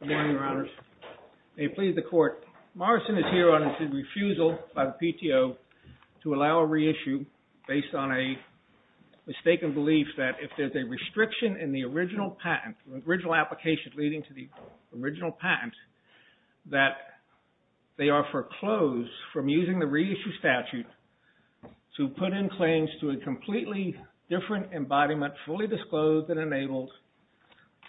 Good morning, your honors. May it please the court, Morrison is here on his refusal by the PTO to allow a reissue based on a mistaken belief that if there's a restriction in the original patent, the original application leading to the original patent, that they are foreclosed from using the reissue statute to put in claims to a completely different embodiment, fully disclosed and enabled,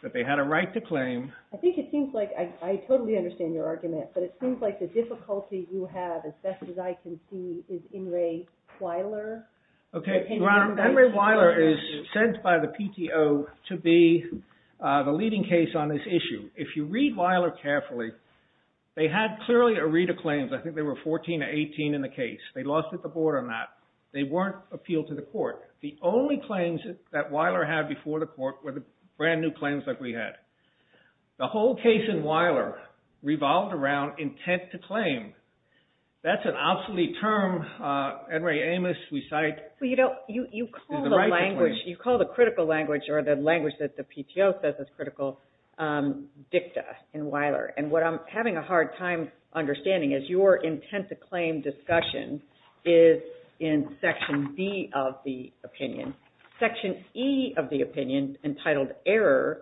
that they had a right to claim. I think it seems like, I totally understand your argument, but it seems like the difficulty you have, as best as I can see, is In re Weiler. Okay, your honor, In re Weiler is sent by the PTO to be the leading case on this issue. If you read Weiler carefully, they had clearly a read of claims. I think there were 14 or 18 in the case. They lost at the board on that. They weren't appealed to the court. The only claims that Weiler had before the court were the brand new claims that we had. The whole case in Weiler revolved around intent to claim. That's an obsolete term, Enri Amos, we cite. Well, you know, you call the language, you call the critical language or the language that the PTO says is critical, dicta in Weiler. And what I'm having a hard time understanding is your intent to claim discussion is in section B of the opinion. Section E of the opinion entitled error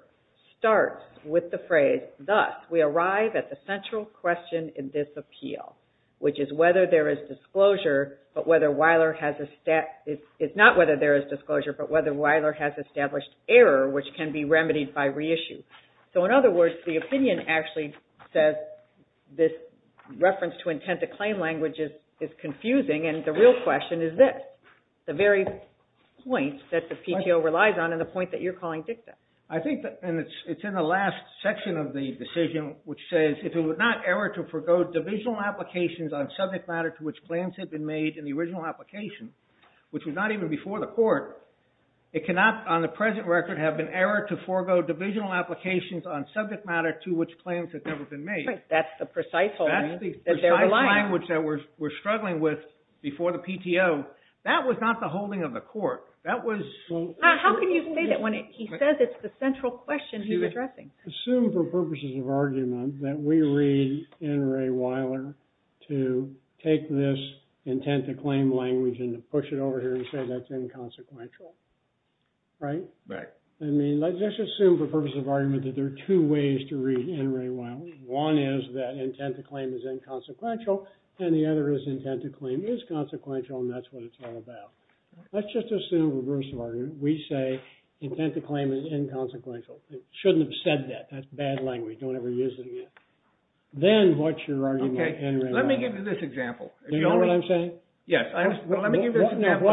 starts with the phrase, thus, we arrive at the central question in this appeal, which is whether there is disclosure, but whether Weiler has, it's not whether there is disclosure, but whether Weiler has established error, which can be remedied by reissue. So in other words, the opinion actually says this reference to intent to claim language is confusing, and the real question is this. The very point that the PTO relies on and the point that you're calling dicta. I think that, and it's in the last section of the decision, which says, if it were not error to forego divisional applications on subject matter to which claims had been made in the original application, which was not even before the court, it cannot on the present record have been error to forego divisional applications on subject matter to which claims had never been made. Right, that's the precise holding that they're relying on. That's the precise language that we're struggling with before the PTO. That was not the holding of the court. That was... How can you say that when he says it's the central question he's addressing? Assume for purposes of argument that we read N. Ray Weiler to take this intent to claim language and to push it over here and say that's inconsequential. Right? Right. I mean, let's just assume for purposes of argument that there are two ways to read N. Ray Weiler. One is that intent to claim is inconsequential, and the other is intent to claim is consequential, and that's what it's all about. Let's just assume for purposes of argument we say intent to claim is inconsequential. It shouldn't have said that. That's bad language. Don't ever use it again. Then what's your argument? Okay, let me give you this example. Do you know what I'm saying? Yes. Let me give you this example.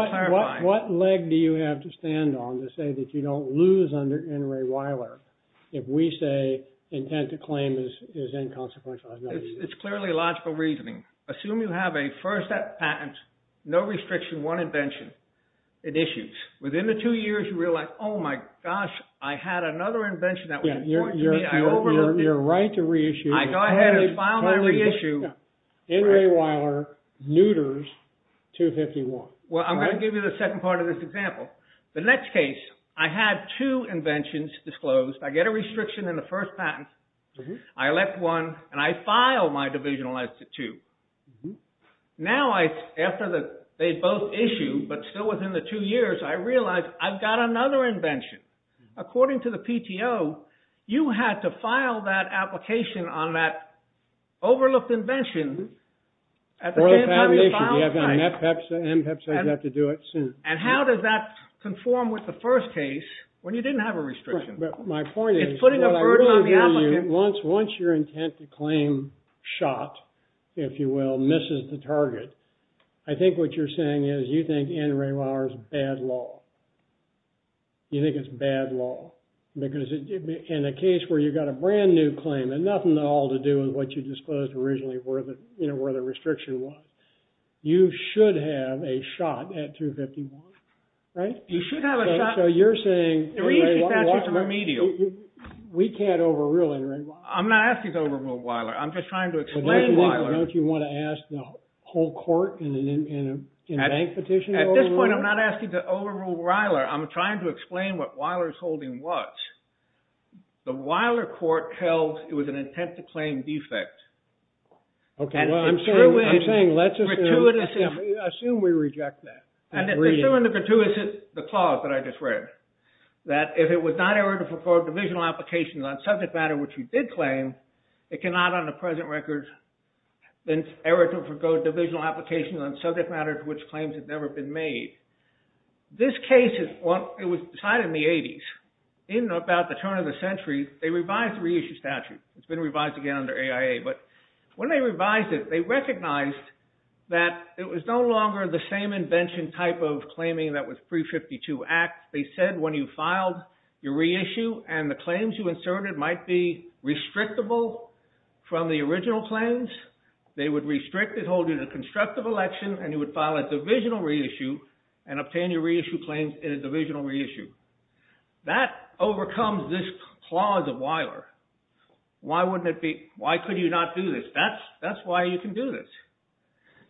What leg do you have to stand on to say that you don't lose under N. Ray Weiler if we say intent to claim is inconsequential? It's clearly logical reasoning. Assume you have a first step patent, no restriction, one invention. It issues. Within the two years, you realize, oh my gosh, I had another invention that was important to me. I overlooked it. You're right to reissue. I go ahead and file that reissue. N. Ray Weiler neuters 251. Well, I'm going to give you the second part of this example. The next case, I had two inventions disclosed. I get a restriction in the first patent. I elect one, and I file my divisional as to two. Now, after they both issue, but still within the two years, I realize I've got another invention. According to the PTO, you had to file that application on that overlooked invention at the same time you filed the patent. You have to do it soon. How does that conform with the first case when you didn't have a restriction? My point is- It's putting a burden on the applicant. Once your intent to claim shot, if you will, misses the target, I think what you're saying is you think N. Ray Weiler's bad law. You think it's bad law. Because in a case where you got a brand new claim, and nothing at all to do with what you disclosed originally where the restriction was, you should have a shot at 251, right? You should have a shot. So you're saying- The reissue statute's remedial. We can't overrule N. Ray Weiler. I'm not asking to overrule Weiler. I'm just trying to explain Weiler. Don't you want to ask the whole court in a bank petition to overrule it? At this point, I'm not asking to overrule Weiler. I'm trying to explain what Weiler's holding what. The Weiler court held it was an intent to claim defect. Okay, well, I'm saying let's assume- Assume we reject that. Assume the gratuitous clause that I just read. That if it was not error to forego divisional applications on subject matter which you did claim, it cannot on the present record, then error to forego divisional applications on subject matter to which claims have never been made. This case, it was decided in the 80s. In about the turn of the century, they revised the reissue statute. It's been revised again under AIA. When they revised it, they recognized that it was no longer the same invention type of claiming that was pre-52 Act. They said when you filed your reissue and the claims you inserted might be restrictable from the original claims. They would restrict it holding a constructive election and you would file a divisional reissue and obtain your reissue claims in a divisional reissue. That overcomes this clause of Weiler. Why couldn't you not do this? That's why you can do this.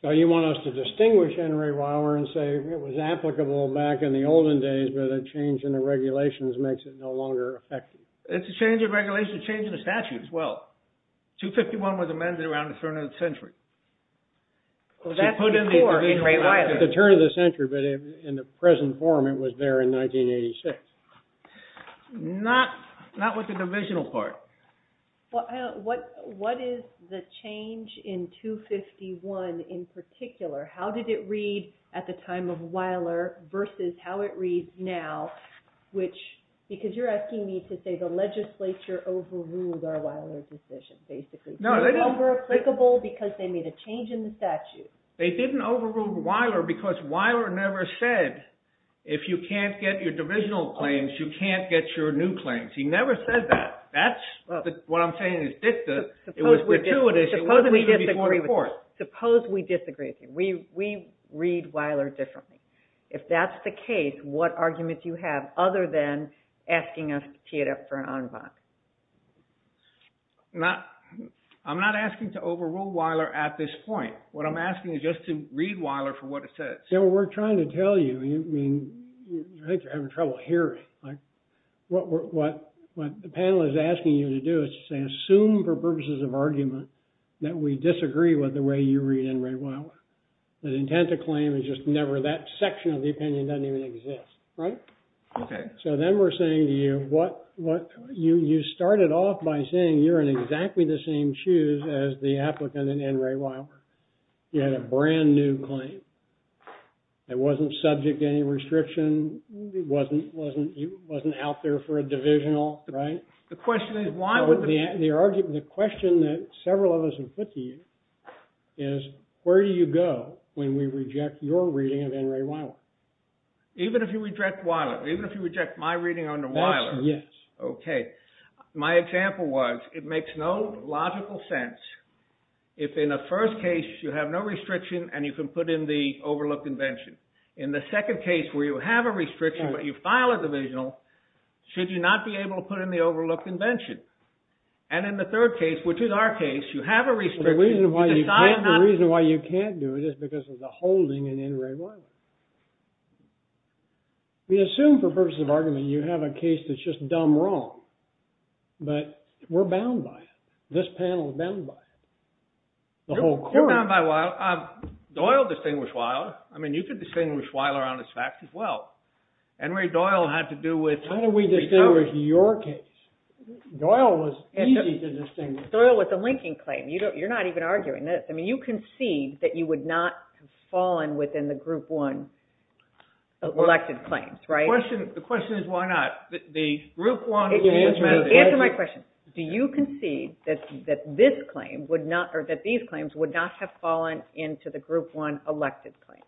You want us to distinguish Henry Weiler and say it was applicable back in the olden days but a change in the regulations makes it no longer effective. It's a change in regulations, a change in the statute as well. 251 was amended around the turn of the century. That's before Henry Weiler. The turn of the century, but in the present form, it was there in 1986. Not with the divisional part. What is the change in 251 in particular? How did it read at the time of Weiler versus how it reads now? Because you're asking me to say the legislature overruled our Weiler decision. It was over applicable because they made a change in the statute. They didn't overrule Weiler because Weiler never said if you can't get your divisional claims, you can't get your new claims. He never said that. What I'm saying is dicta. It was gratuitous. Suppose we disagree with you. We read Weiler differently. If that's the case, what arguments do you have other than asking us to tee it up for an en banc? I'm not asking to overrule Weiler at this point. What I'm asking is just to read Weiler for what it says. We're trying to tell you. I think you're having trouble hearing. What the panel is asking you to do is to say assume for purposes of argument that we disagree with the way you read N. Ray Weiler. The intent of claim is just never that section of the opinion doesn't even exist. Then we're saying to you, you started off by saying you're in exactly the same shoes as the applicant in N. Ray Weiler. You had a brand new claim. It wasn't subject to any restriction. It wasn't out there for a divisional, right? The question is why would the... The question that several of us have put to you is where do you go when we reject your reading of N. Ray Weiler? Even if you reject Weiler? Even if you reject my reading under Weiler? Yes. Okay. My example was it makes no logical sense if in a first case you have no restriction and you can put in the overlooked invention. In the second case where you have a restriction but you file a divisional should you not be able to put in the overlooked invention? And in the third case, which is our case, you have a restriction. The reason why you can't do it is because of the holding in N. Ray Weiler. We assume for purposes of argument you have a case that's just dumb wrong. But we're bound by it. This panel is bound by it. The whole court is. You're bound by Weiler. Doyle distinguished Weiler. I mean, you could distinguish Weiler on this fact as well. N. Ray Doyle had to do with... How do we distinguish your case? Doyle was easy to distinguish. Doyle was a linking claim. You're not even arguing this. I mean, you concede that you would not have fallen within the group one elected claims, right? The question is why not? The group one... Answer my question. Do you concede that this claim would not... Or that these claims would not have fallen into the group one elected claims?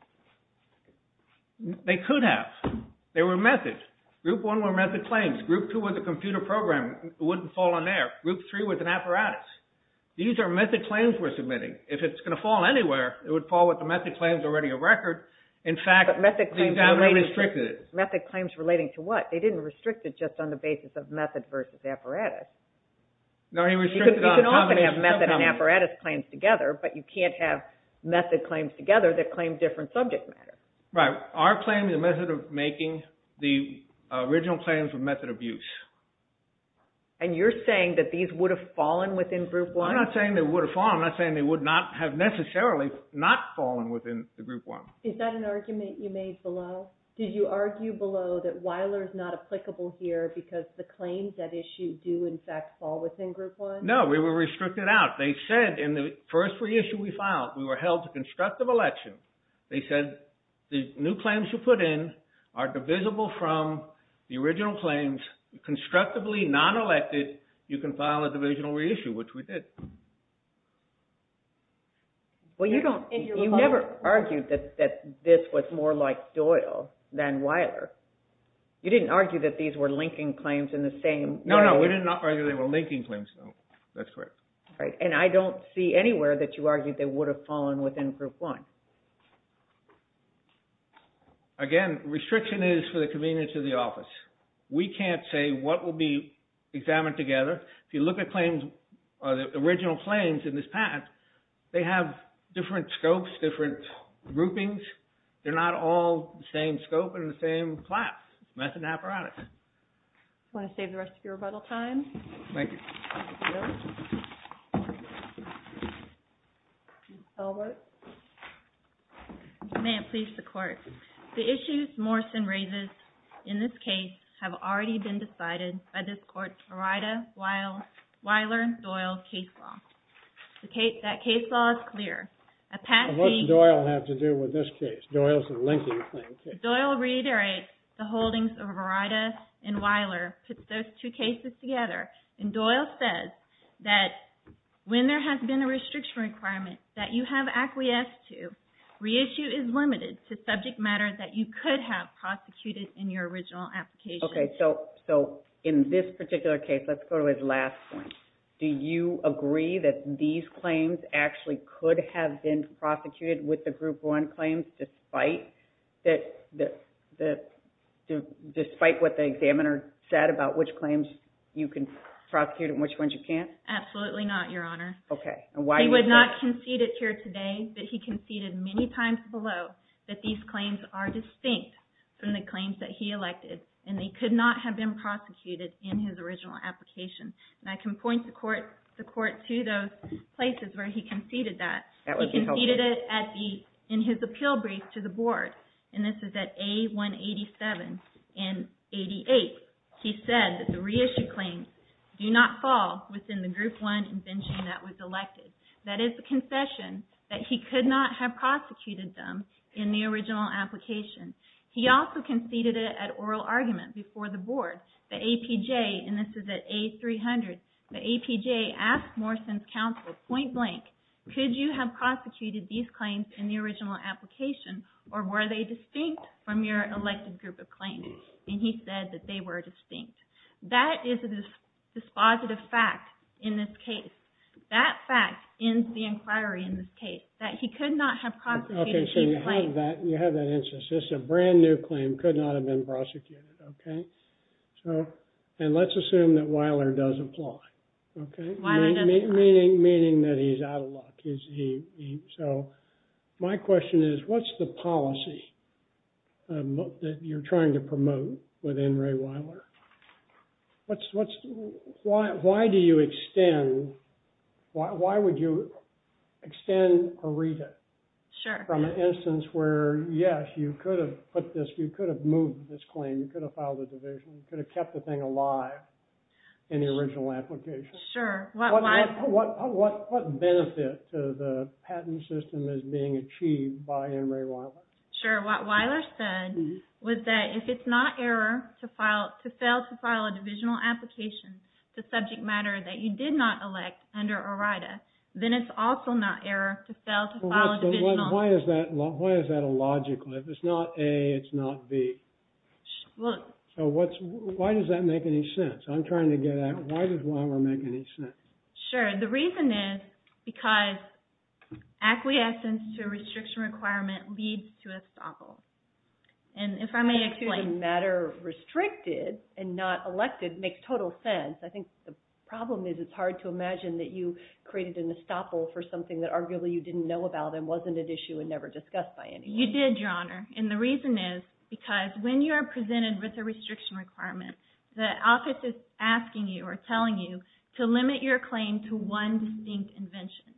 They could have. They were methods. Group one were method claims. Group two was a computer program. It wouldn't fall in there. Group three was an apparatus. These are method claims we're submitting. If it's going to fall anywhere, it would fall with the method claims already a record. In fact, the examiner restricted it. Method claims relating to what? They didn't restrict it just on the basis of method versus apparatus. No, he restricted it on... You can often have method and apparatus claims together, but you can't have method claims together that claim different subject matters. Right. Our claim is a method of making the original claims of method abuse. And you're saying that these would have fallen within group one? I'm not saying they would have fallen. I'm not saying they would not have necessarily not fallen within the group one. Is that an argument you made below? Did you argue below that Weiler is not applicable here because the claims at issue do, in fact, fall within group one? No, we were restricted out. They said in the first reissue we filed, we were held to constructive election. They said the new claims you put in are divisible from the original claims, constructively non-elected. You can file a divisional reissue, which we did. Well, you never argued that this was more like Doyle than Weiler. You didn't argue that these were linking claims in the same way. No, no, we did not argue they were linking claims. That's correct. Right. And I don't see anywhere that you argued they would have fallen within group one. Again, restriction is for the convenience of the office. We can't say what will be examined together. If you look at claims, or the original claims in this patent, they have different scopes, different groupings. They're not all the same scope and the same class. That's an apparatus. Want to save the rest of your rebuttal time? Thank you. May it please the court. The issues Morrison raises in this case have already been decided by this court's Ryda-Weiler-Doyle case law. That case law is clear. What does Doyle have to do with this case? Doyle's a linking claim case. Doyle reiterates the holdings of Ryda and Weiler, puts those two cases together, and Doyle says that when there has been a restriction requirement that you have acquiesced to, reissue is limited to subject matter that you could have prosecuted in your original application. Okay, so in this particular case, let's go to his last point. Do you agree that these claims actually could have been prosecuted with the Group 1 claims despite what the examiner said about which claims you can prosecute and which ones you can't? Absolutely not, Your Honor. He would not concede it here today, but he conceded many times below that these claims are distinct from the claims that he elected and they could not have been prosecuted in his original application. And I can point the Court to those places where he conceded that. That would be helpful. He conceded it in his appeal brief to the Board, and this is at A187 and 88. He said that the reissue claims do not fall within the Group 1 invention that was elected. That is a confession that he could not have prosecuted them in the original application. He also conceded it at oral argument before the Board. The APJ, and this is at A300, the APJ asked Morrison's counsel, point blank, could you have prosecuted these claims in the original application or were they distinct from your elected group of claims? And he said that they were distinct. That is a dispositive fact in this case. That fact ends the inquiry in this case, that he could not have prosecuted these claims. Okay, so you have that instance. Just a brand new claim could not have been prosecuted, okay? So, and let's assume that Weiler does apply, okay? Weiler doesn't apply. Meaning that he's out of luck. So, my question is, what's the policy that you're trying to promote within Ray Weiler? What's, why do you extend, why would you extend Areta? Sure. From an instance where, yes, you could have put this, you could have moved this claim, you could have filed a division, you could have kept the thing alive in the original application. Sure. What benefit to the patent system is being achieved by Ray Weiler? Sure. What Weiler said was that if it's not error to file, to fail to file a divisional application, the subject matter that you did not elect under Areta, then it's also not error to fail to file a divisional. Why is that illogical? If it's not A, it's not B. Look. So, what's, why does that make any sense? I'm trying to get at, why does Weiler make any sense? Sure. The reason is because acquiescence to a restriction requirement leads to estoppel. And if I may explain. The fact that the matter restricted and not elected makes total sense. I think the problem is it's hard to imagine that you created an estoppel for something that arguably you didn't know about and wasn't at issue and never discussed by anyone. You did, Your Honor. And the reason is because when you're presented with a restriction requirement, the office is asking you or telling you to limit your claim to one distinct invention.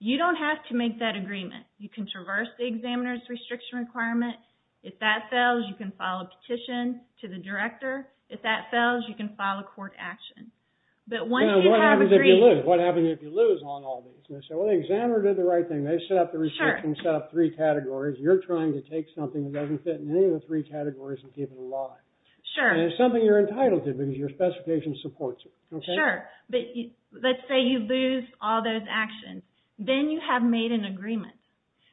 You don't have to make that agreement. You can traverse the examiner's restriction requirement. If that fails, you can file a petition to the director. If that fails, you can file a court action. But once you have agreed. Now, what happens if you lose? What happens if you lose on all these? Well, the examiner did the right thing. They set up the restriction. Sure. Whereas you're trying to take something that doesn't fit in any of the three categories and keep it alive. Sure. And it's something you're entitled to because your specification supports it. Sure. But let's say you lose all those actions. Then you have made an agreement.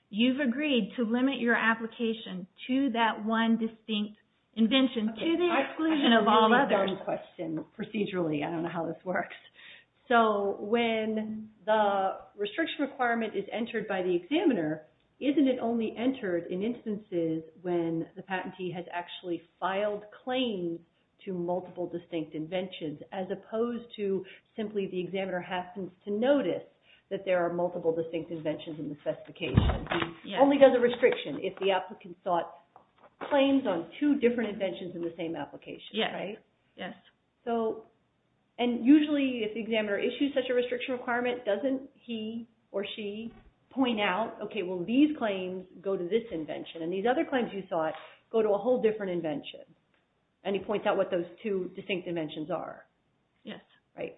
You've agreed to limit your application to that one distinct invention to the exclusion of all others. I have a very important question. Procedurally, I don't know how this works. So when the restriction requirement is entered by the examiner, isn't it only entered in instances when the patentee has actually filed claims to multiple distinct inventions as opposed to simply the examiner happens to notice that there are multiple distinct inventions in the specification? Yes. It only does a restriction if the applicant sought claims on two different inventions in the same application. Yes. Right? Yes. And usually, if the examiner issues such a restriction requirement, doesn't he or she point out, okay, well, these claims go to this invention and these other claims you sought go to a whole different invention? And he points out what those two distinct inventions are? Yes. Right.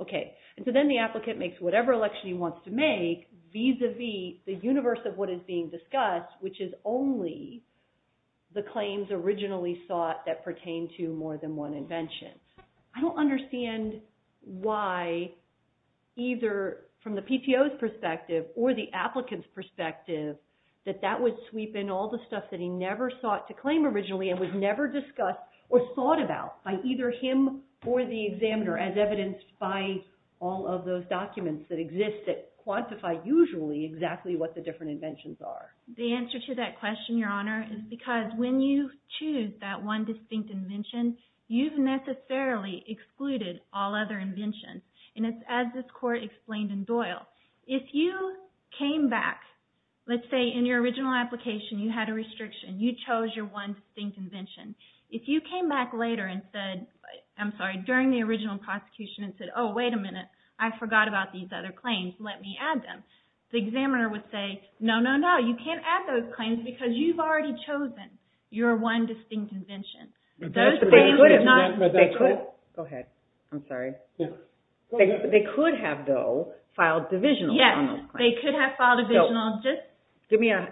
Okay. And so then the applicant makes whatever election he wants to make vis-a-vis the universe of what is being discussed, which is only the claims originally sought that pertain to more than one invention. I don't understand why either from the PTO's perspective or the applicant's perspective that that would sweep in all the stuff that he never sought to claim originally and was never discussed or thought about by either him or the examiner as evidenced by all of those documents that exist that quantify usually exactly what the different inventions are. The answer to that question, Your Honor, is because when you choose that one distinct invention, you've necessarily excluded all other inventions. And it's as this court explained in Doyle. If you came back, let's say in your original application you had a restriction, you chose your one distinct invention. If you came back later and said, I'm sorry, during the original prosecution and said, oh, wait a minute, I forgot about these other claims. Let me add them. The examiner would say, no, no, no, you can't add those claims because you've already chosen your one distinct invention. They could have, though, filed divisionals. Yes, they could have filed divisionals.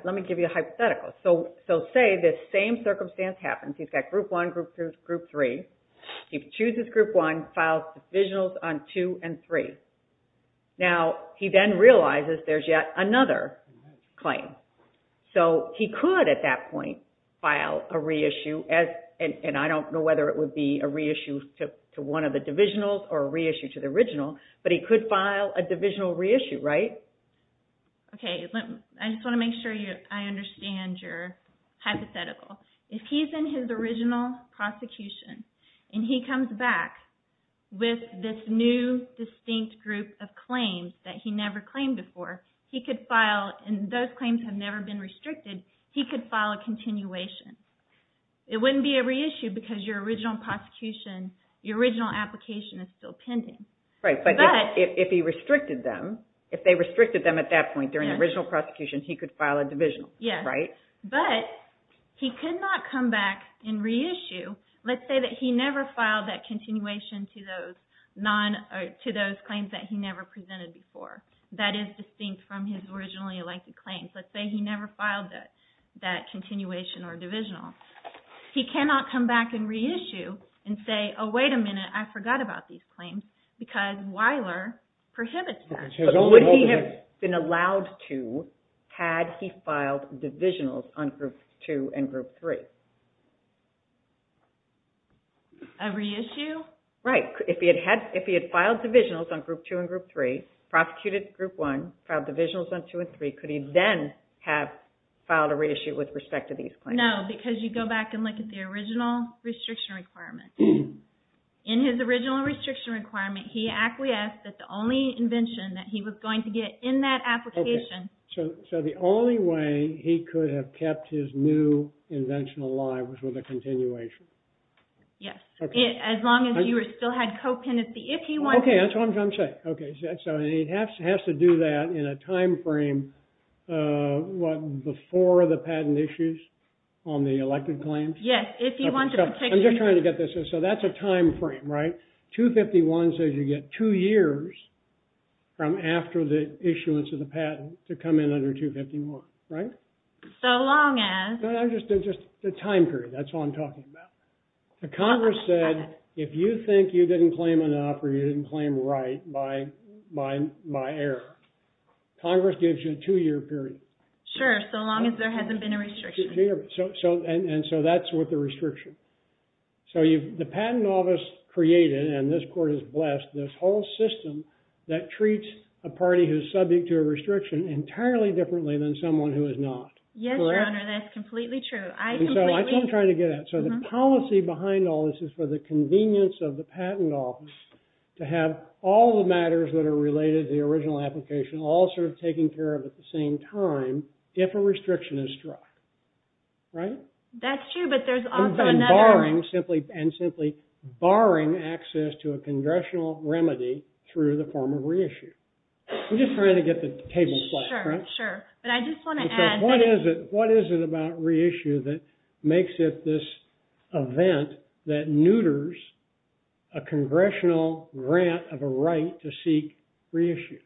Let me give you a hypothetical. So say this same circumstance happens. He's got Group 1, Group 2, Group 3. He chooses Group 1, files divisionals on 2 and 3. Now, he then realizes there's yet another claim. So he could, at that point, file a reissue. And I don't know whether it would be a reissue to one of the divisionals or a reissue to the original. But he could file a divisional reissue, right? OK. I just want to make sure I understand your hypothetical. If he's in his original prosecution and he comes back with this new distinct group of claims that he never claimed before, he could file, and those claims have never been restricted, he could file a continuation. It wouldn't be a reissue because your original prosecution, your original application is still pending. Right, but if he restricted them, if they restricted them at that point during the original prosecution, he could file a divisional. Yes. Right? But he could not come back and reissue. Let's say that he never filed that continuation to those claims that he never presented before. That is distinct from his originally elected claims. Let's say he never filed that continuation or divisional. He cannot come back and reissue and say, oh, wait a minute, I forgot about these claims, because Weiler prohibits that. But what would he have been allowed to had he filed divisionals on Group 2 and Group 3? A reissue? Right. If he had filed divisionals on Group 2 and Group 3, prosecuted Group 1, filed divisionals on 2 and 3, could he then have filed a reissue with respect to these claims? No, because you go back and look at the original restriction requirement. In his original restriction requirement, he acquiesced that the only invention that he was going to get in that application So the only way he could have kept his new invention alive was with a continuation. Yes. As long as you still had co-penancy. OK, that's what I'm trying to say. So he has to do that in a time frame before the patent issues on the elected claims? Yes. I'm just trying to get this. So that's a time frame, right? 251 says you get two years from after the issuance of the patent to come in under 251, right? So long as. Just a time period. That's all I'm talking about. Congress said if you think you didn't claim enough or you didn't claim right by error, Congress gives you a two-year period. Sure, so long as there hasn't been a restriction. And so that's with the restriction. So the Patent Office created, and this court is blessed, this whole system that treats a party who's subject to a restriction entirely differently than someone who is not. Yes, Your Honor, that's completely true. So I'm trying to get at it. So the policy behind all this is for the convenience of the Patent Office to have all the matters that are related to the original application all sort of taken care of at the same time if a restriction is struck, right? That's true, but there's also another one. And simply barring access to a congressional remedy through the form of reissue. I'm just trying to get the table flat, correct? Sure, sure. But I just want to add that. What is it about reissue that makes it this event that neuters a congressional grant of a right to seek reissue?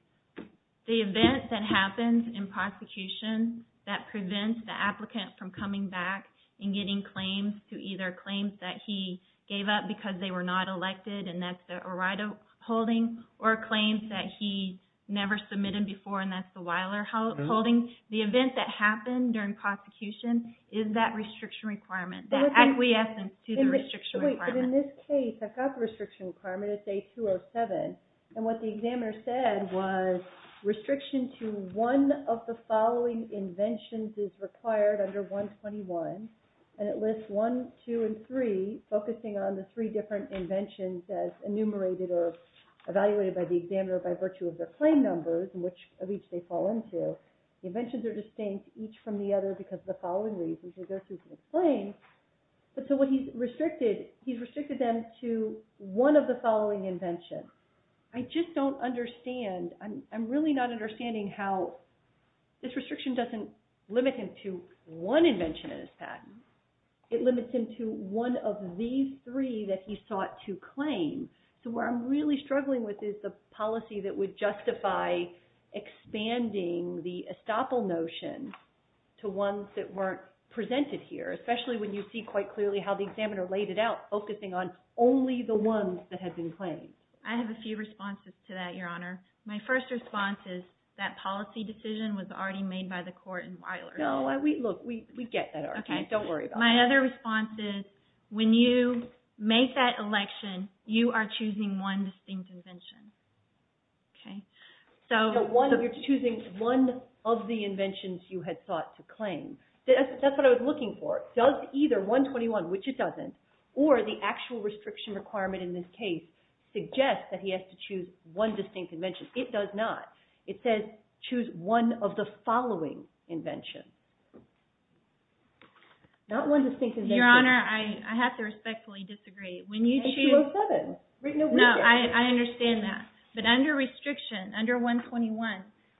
The event that happens in prosecution that prevents the applicant from coming back and getting claims to either claims that he gave up because they were not elected, and that's the Arado holding, or claims that he never submitted before, and that's the Weiler holding. The event that happened during prosecution is that restriction requirement, that acquiescence to the restriction requirement. But in this case, I've got the restriction requirement at day 207. And what the examiner said was, restriction to one of the following inventions is required under 121. And it lists one, two, and three, focusing on the three different inventions as enumerated or evaluated by the examiner by virtue of their claim numbers, which of each they fall into. The inventions are distinct each from the other because of the following reasons, because they're two different claims. So what he's restricted, he's restricted them to one of the following inventions. I just don't understand. I'm really not understanding how this restriction doesn't limit him to one invention in his patent. It limits him to one of these three that he sought to claim. So where I'm really struggling with is the policy that would justify expanding the estoppel notion to ones that weren't presented here, especially when you see quite clearly how the examiner laid it out, focusing on only the ones that had been claimed. I have a few responses to that, Your Honor. My first response is, that policy decision was already made by the court in Weiler. No, look, we get that argument. Don't worry about it. My other response is, when you make that election, you are choosing one distinct invention. So you're choosing one of the inventions you had sought to claim. That's what I was looking for. Does either 121, which it doesn't, or the actual restriction requirement in this case suggest that he has to choose one distinct invention? It does not. It says, choose one of the following inventions. Not one distinct invention. Your Honor, I have to respectfully disagree. It's 207. No, I understand that. But under restriction, under 121,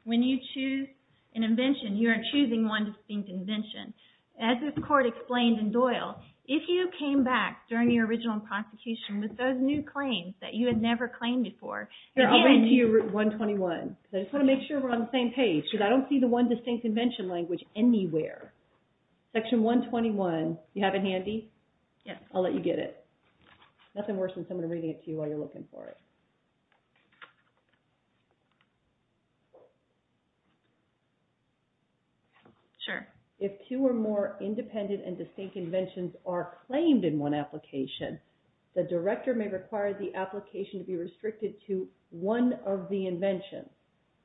when you choose an invention, you are choosing one distinct invention. As this court explained in Doyle, if you came back during your original prosecution with those new claims that you had never claimed before, they're handed to you. I'll bring it to you, 121. I just want to make sure we're on the same page, because I don't see the one distinct invention language anywhere. Section 121, do you have it handy? Yes. I'll let you get it. Nothing worse than someone reading it to you while you're looking for it. Sure. If two or more independent and distinct inventions are claimed in one application, the director may require the application to be restricted to one of the inventions.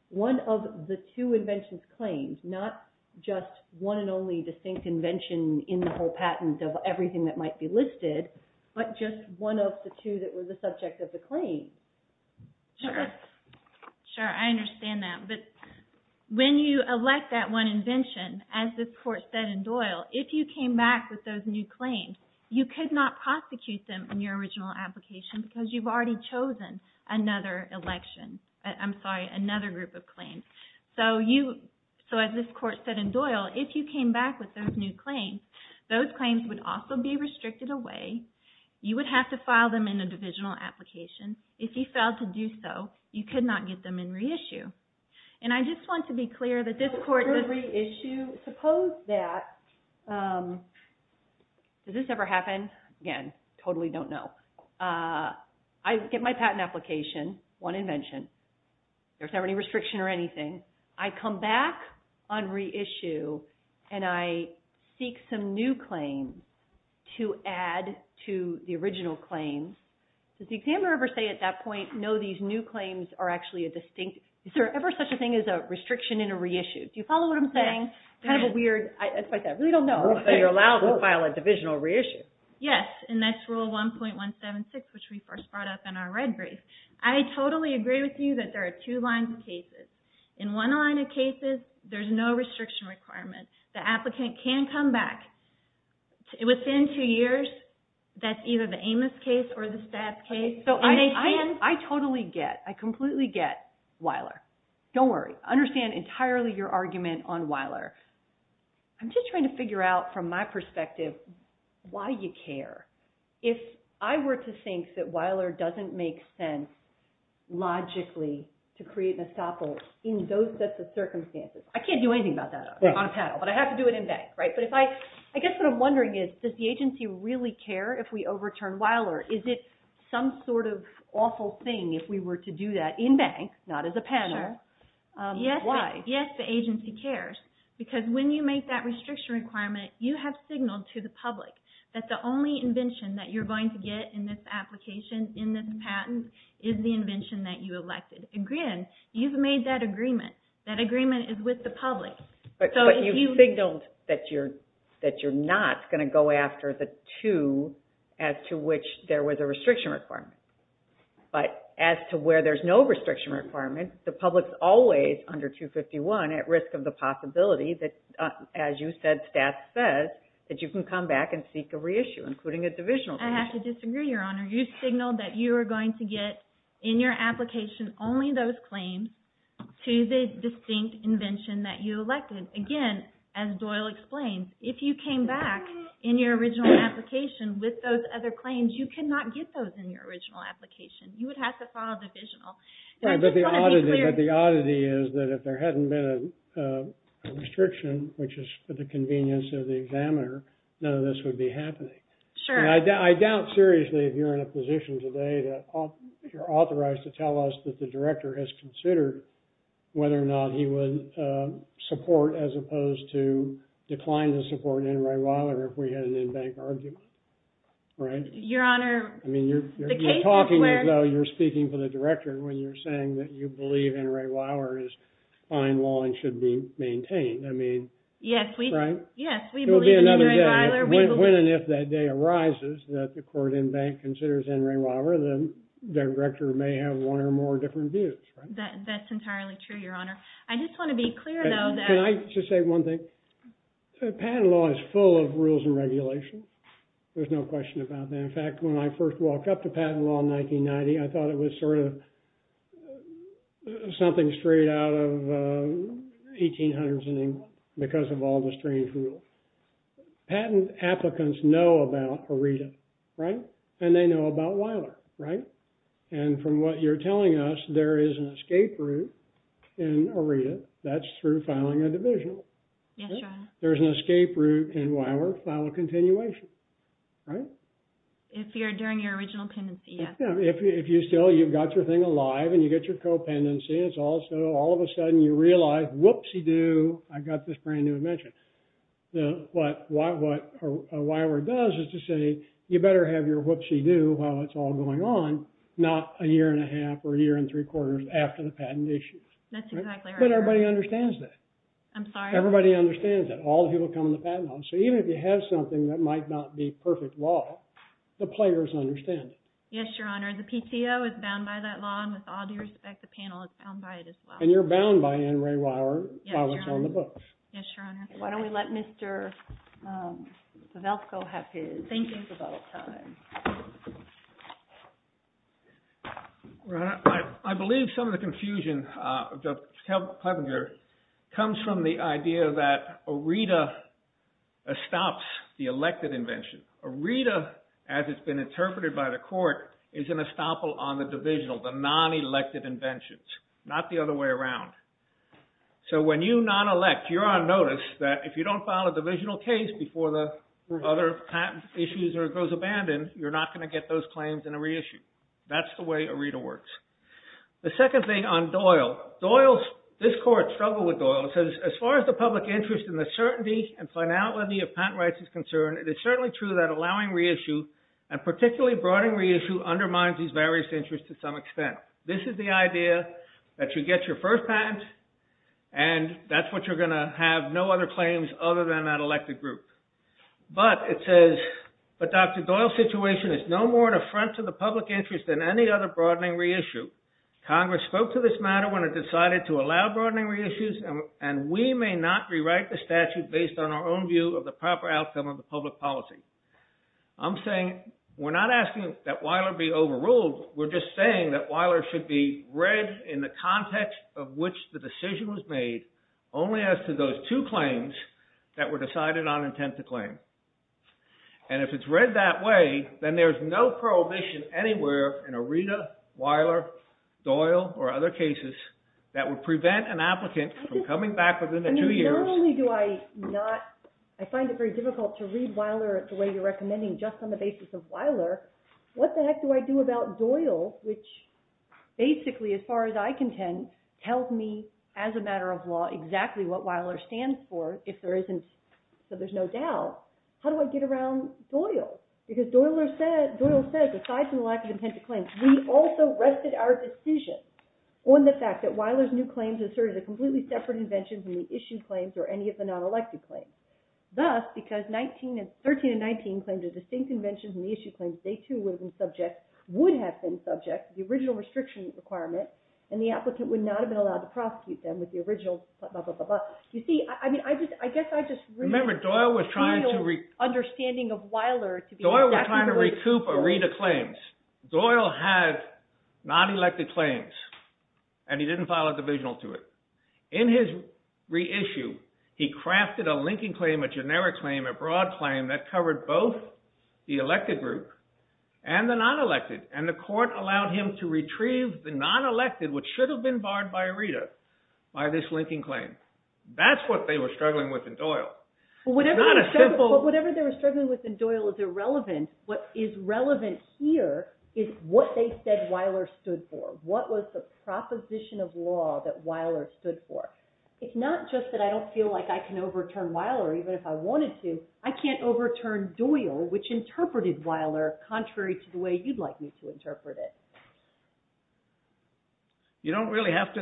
One of the two inventions claimed, not just one and only distinct invention in the whole patent of everything that might be listed, but just one of the two that were the subject of the claim. Sure. Sure. I understand that. But when you elect that one invention, as this court said in Doyle, if you came back with those new claims, you could not prosecute them in your original application, because you've already chosen another election. I'm sorry, another group of claims. So as this court said in Doyle, if you came back with those new claims, those claims would also be restricted away. You would have to file them in a divisional application. If you failed to do so, you could not get them in reissue. And I just want to be clear that this court would reissue. Suppose that, does this ever happen? Again, totally don't know. I get my patent application, one invention. There's not any restriction or anything. I come back on reissue, and I seek some new claims to add to the original claims. Does the examiner ever say at that point, no, these new claims are actually a distinct? Is there ever such a thing as a restriction in a reissue? Do you follow what I'm saying? Kind of a weird, I really don't know. So you're allowed to file a divisional reissue. Yes, and that's rule 1.176, which we first brought up in our red brief. I totally agree with you that there are two lines of cases. In one line of cases, there's no restriction requirement. The applicant can come back. Within two years, that's either the Amos case or the Staff case. I totally get. I completely get, Weiler. Don't worry. I understand entirely your argument on Weiler. I'm just trying to figure out from my perspective why you care. If I were to think that Weiler doesn't make sense logically to create an estoppel in those sets of circumstances. I can't do anything about that on a panel, but I have to do it in bank. I guess what I'm wondering is, does the agency really care if we overturn Weiler? Is it some sort of awful thing if we were to do that in bank, not as a panel? Why? Yes, the agency cares. Because when you make that restriction requirement, you have signaled to the public that the only invention that you're going to get in this application, in this patent, is the invention that you elected. Again, you've made that agreement. That agreement is with the public. But you've signaled that you're not going to go after the two as to which there was a restriction requirement. But as to where there's no restriction requirement, the public's always under 251 at risk of the possibility that, as you said, the staff says, that you can come back and seek a reissue, including a divisional. I have to disagree, Your Honor. You signaled that you were going to get in your application only those claims to the distinct invention that you elected. Again, as Doyle explained, if you came back in your original application with those other claims, you could not get those in your original application. You would have to file a divisional. But the oddity is that if there hadn't been a restriction, which is for the convenience of the examiner, none of this would be happening. Sure. I doubt, seriously, if you're in a position today that you're authorized to tell us that the director has considered whether or not he would support, as opposed to decline to support N. Ray Weiler if we had an in-bank argument, right? Your Honor, the case is where— You're talking as though you're speaking for the director when you're saying that you believe N. Ray Weiler is fine law and should be maintained. Yes, we believe in N. Ray Weiler. When and if that day arises that the court in-bank considers N. Ray Weiler, the director may have one or more different views. That's entirely true, Your Honor. I just want to be clear, though— Can I just say one thing? Patent law is full of rules and regulation. There's no question about that. In fact, when I first walked up to patent law in 1990, I thought it was sort of something straight out of 1800s because of all the strange rules. Patent applicants know about ARETA, right? And they know about Weiler, right? And from what you're telling us, there is an escape route in ARETA. That's through filing a divisional. Yes, Your Honor. There's an escape route in Weiler file a continuation, right? If you're during your original pendency, yes. If you still, you've got your thing alive and you get your co-pendency, all of a sudden you realize, whoopsie-doo, I've got this brand-new invention. What Weiler does is to say, you better have your whoopsie-doo while it's all going on, not a year and a half or a year and three quarters after the patent issue. That's exactly right. But everybody understands that. I'm sorry? Everybody understands that. All the people who come into patent law. So even if you have something that might not be perfect law, the players understand it. Yes, Your Honor. The PTO is bound by that law and with all due respect, the panel is bound by it as well. And you're bound by N. Ray Weiler while it's on the books. Yes, Your Honor. Yes, Your Honor. Why don't we let Mr. Pavelko have his thinking for a little time. I believe some of the confusion of Judge Kleppinger comes from the idea that ARETA stops the elected invention. ARETA, as it's been interpreted by the court, is an estoppel on the divisional, the non-elected inventions. Not the other way around. So when you non-elect, you're on notice that if you don't file a divisional case before the other patent issues or it goes abandoned, you're not going to get those claims in a reissue. That's the way ARETA works. The second thing on Doyle. Doyle, this court struggled with Doyle. It says, as far as the public interest in the certainty and finality of patent rights is concerned, it is certainly true that allowing reissue and particularly broadening reissue undermines these various interests to some extent. This is the idea that you get your first patent and that's what you're going to have no other claims other than that elected group. But it says, but Dr. Doyle's situation is no more an affront to the public interest than any other broadening reissue. Congress spoke to this matter when it decided to allow broadening reissues and we may not rewrite the statute based on our own view of the proper outcome of the public policy. I'm saying we're not asking that Weiler be overruled. We're just saying that Weiler should be read in the context of which the decision was made only as to those two claims that were decided on intent to claim. And if it's read that way then there's no prohibition anywhere in ARETA, Weiler, Doyle, or other cases that would prevent an applicant from coming back within the two years. Not only do I not, I find it very difficult to read Weiler the way you're recommending just on the basis of Weiler. What the heck do I do about Doyle which basically as far as I contend tells me as a matter of law exactly what Weiler stands for if there isn't so there's no doubt. How do I get around Doyle? Because Doyle said aside from the lack of intent to claim we also rested our decision on the fact that Weiler's new claims asserted a completely separate invention from the issued claims or any of the non-elected claims. Thus, because 19 and 13 and 19 claims are distinct inventions and the issued claims they too would have been subject, would have been subject to the original restriction requirement and the applicant would not have been allowed to prosecute them with the original you see, I guess I just remember Doyle was trying to understanding of Weiler Doyle was trying to recoup a read of claims. Doyle had non-elected claims and he didn't file a divisional to it. In his reissue he crafted a linking claim a generic claim a broad claim that covered both the elected group and the non-elected and the court allowed him to retrieve the non-elected which should have been barred by a reader by this linking claim. That's what they were struggling with in Doyle. But whatever they were struggling with in Doyle is irrelevant. What is relevant here is what they said Weiler stood for. What was the proposition of law that Weiler stood for. It's not just that I don't feel like I can overturn Weiler even if I wanted to I can't overturn Doyle which interpreted Weiler contrary to the way you'd like me to interpret it. You don't really have to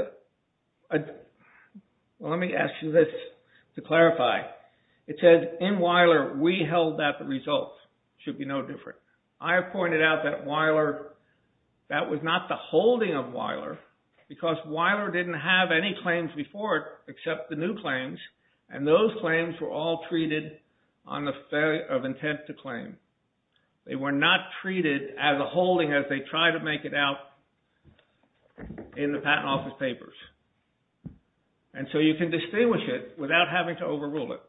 let me ask you this to clarify. It says in Weiler we held that the results should be no different. I have pointed out that Weiler that was not the holding of Weiler because Weiler didn't have any claims before it picked up the new claims and those claims were all treated on the failure of intent to claim. They were not treated as a holding as they tried to make it out in the patent office papers. And so you can distinguish it without having to overrule it.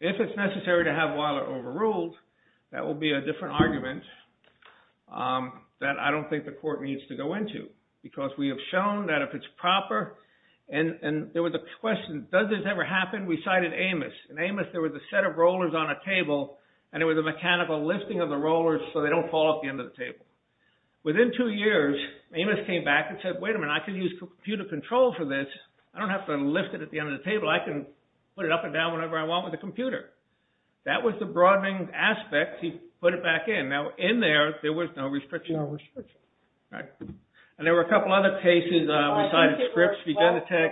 If it's necessary to have Weiler overruled that will be a different argument that I don't think the court needs to go into because we have shown that if it's proper and there was a question does this ever happen? We cited Amos. In Amos there was a set of rollers on a table and it was a mechanical lifting of the rollers so they don't fall off the end of the table. Within two years Amos came back and said wait a minute I can use computer control for this I don't have to lift it at the end of the table I can put it on the table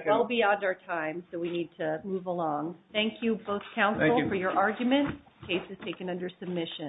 well beyond our time so we need to move along. Thank you both counsel for your arguments. The case is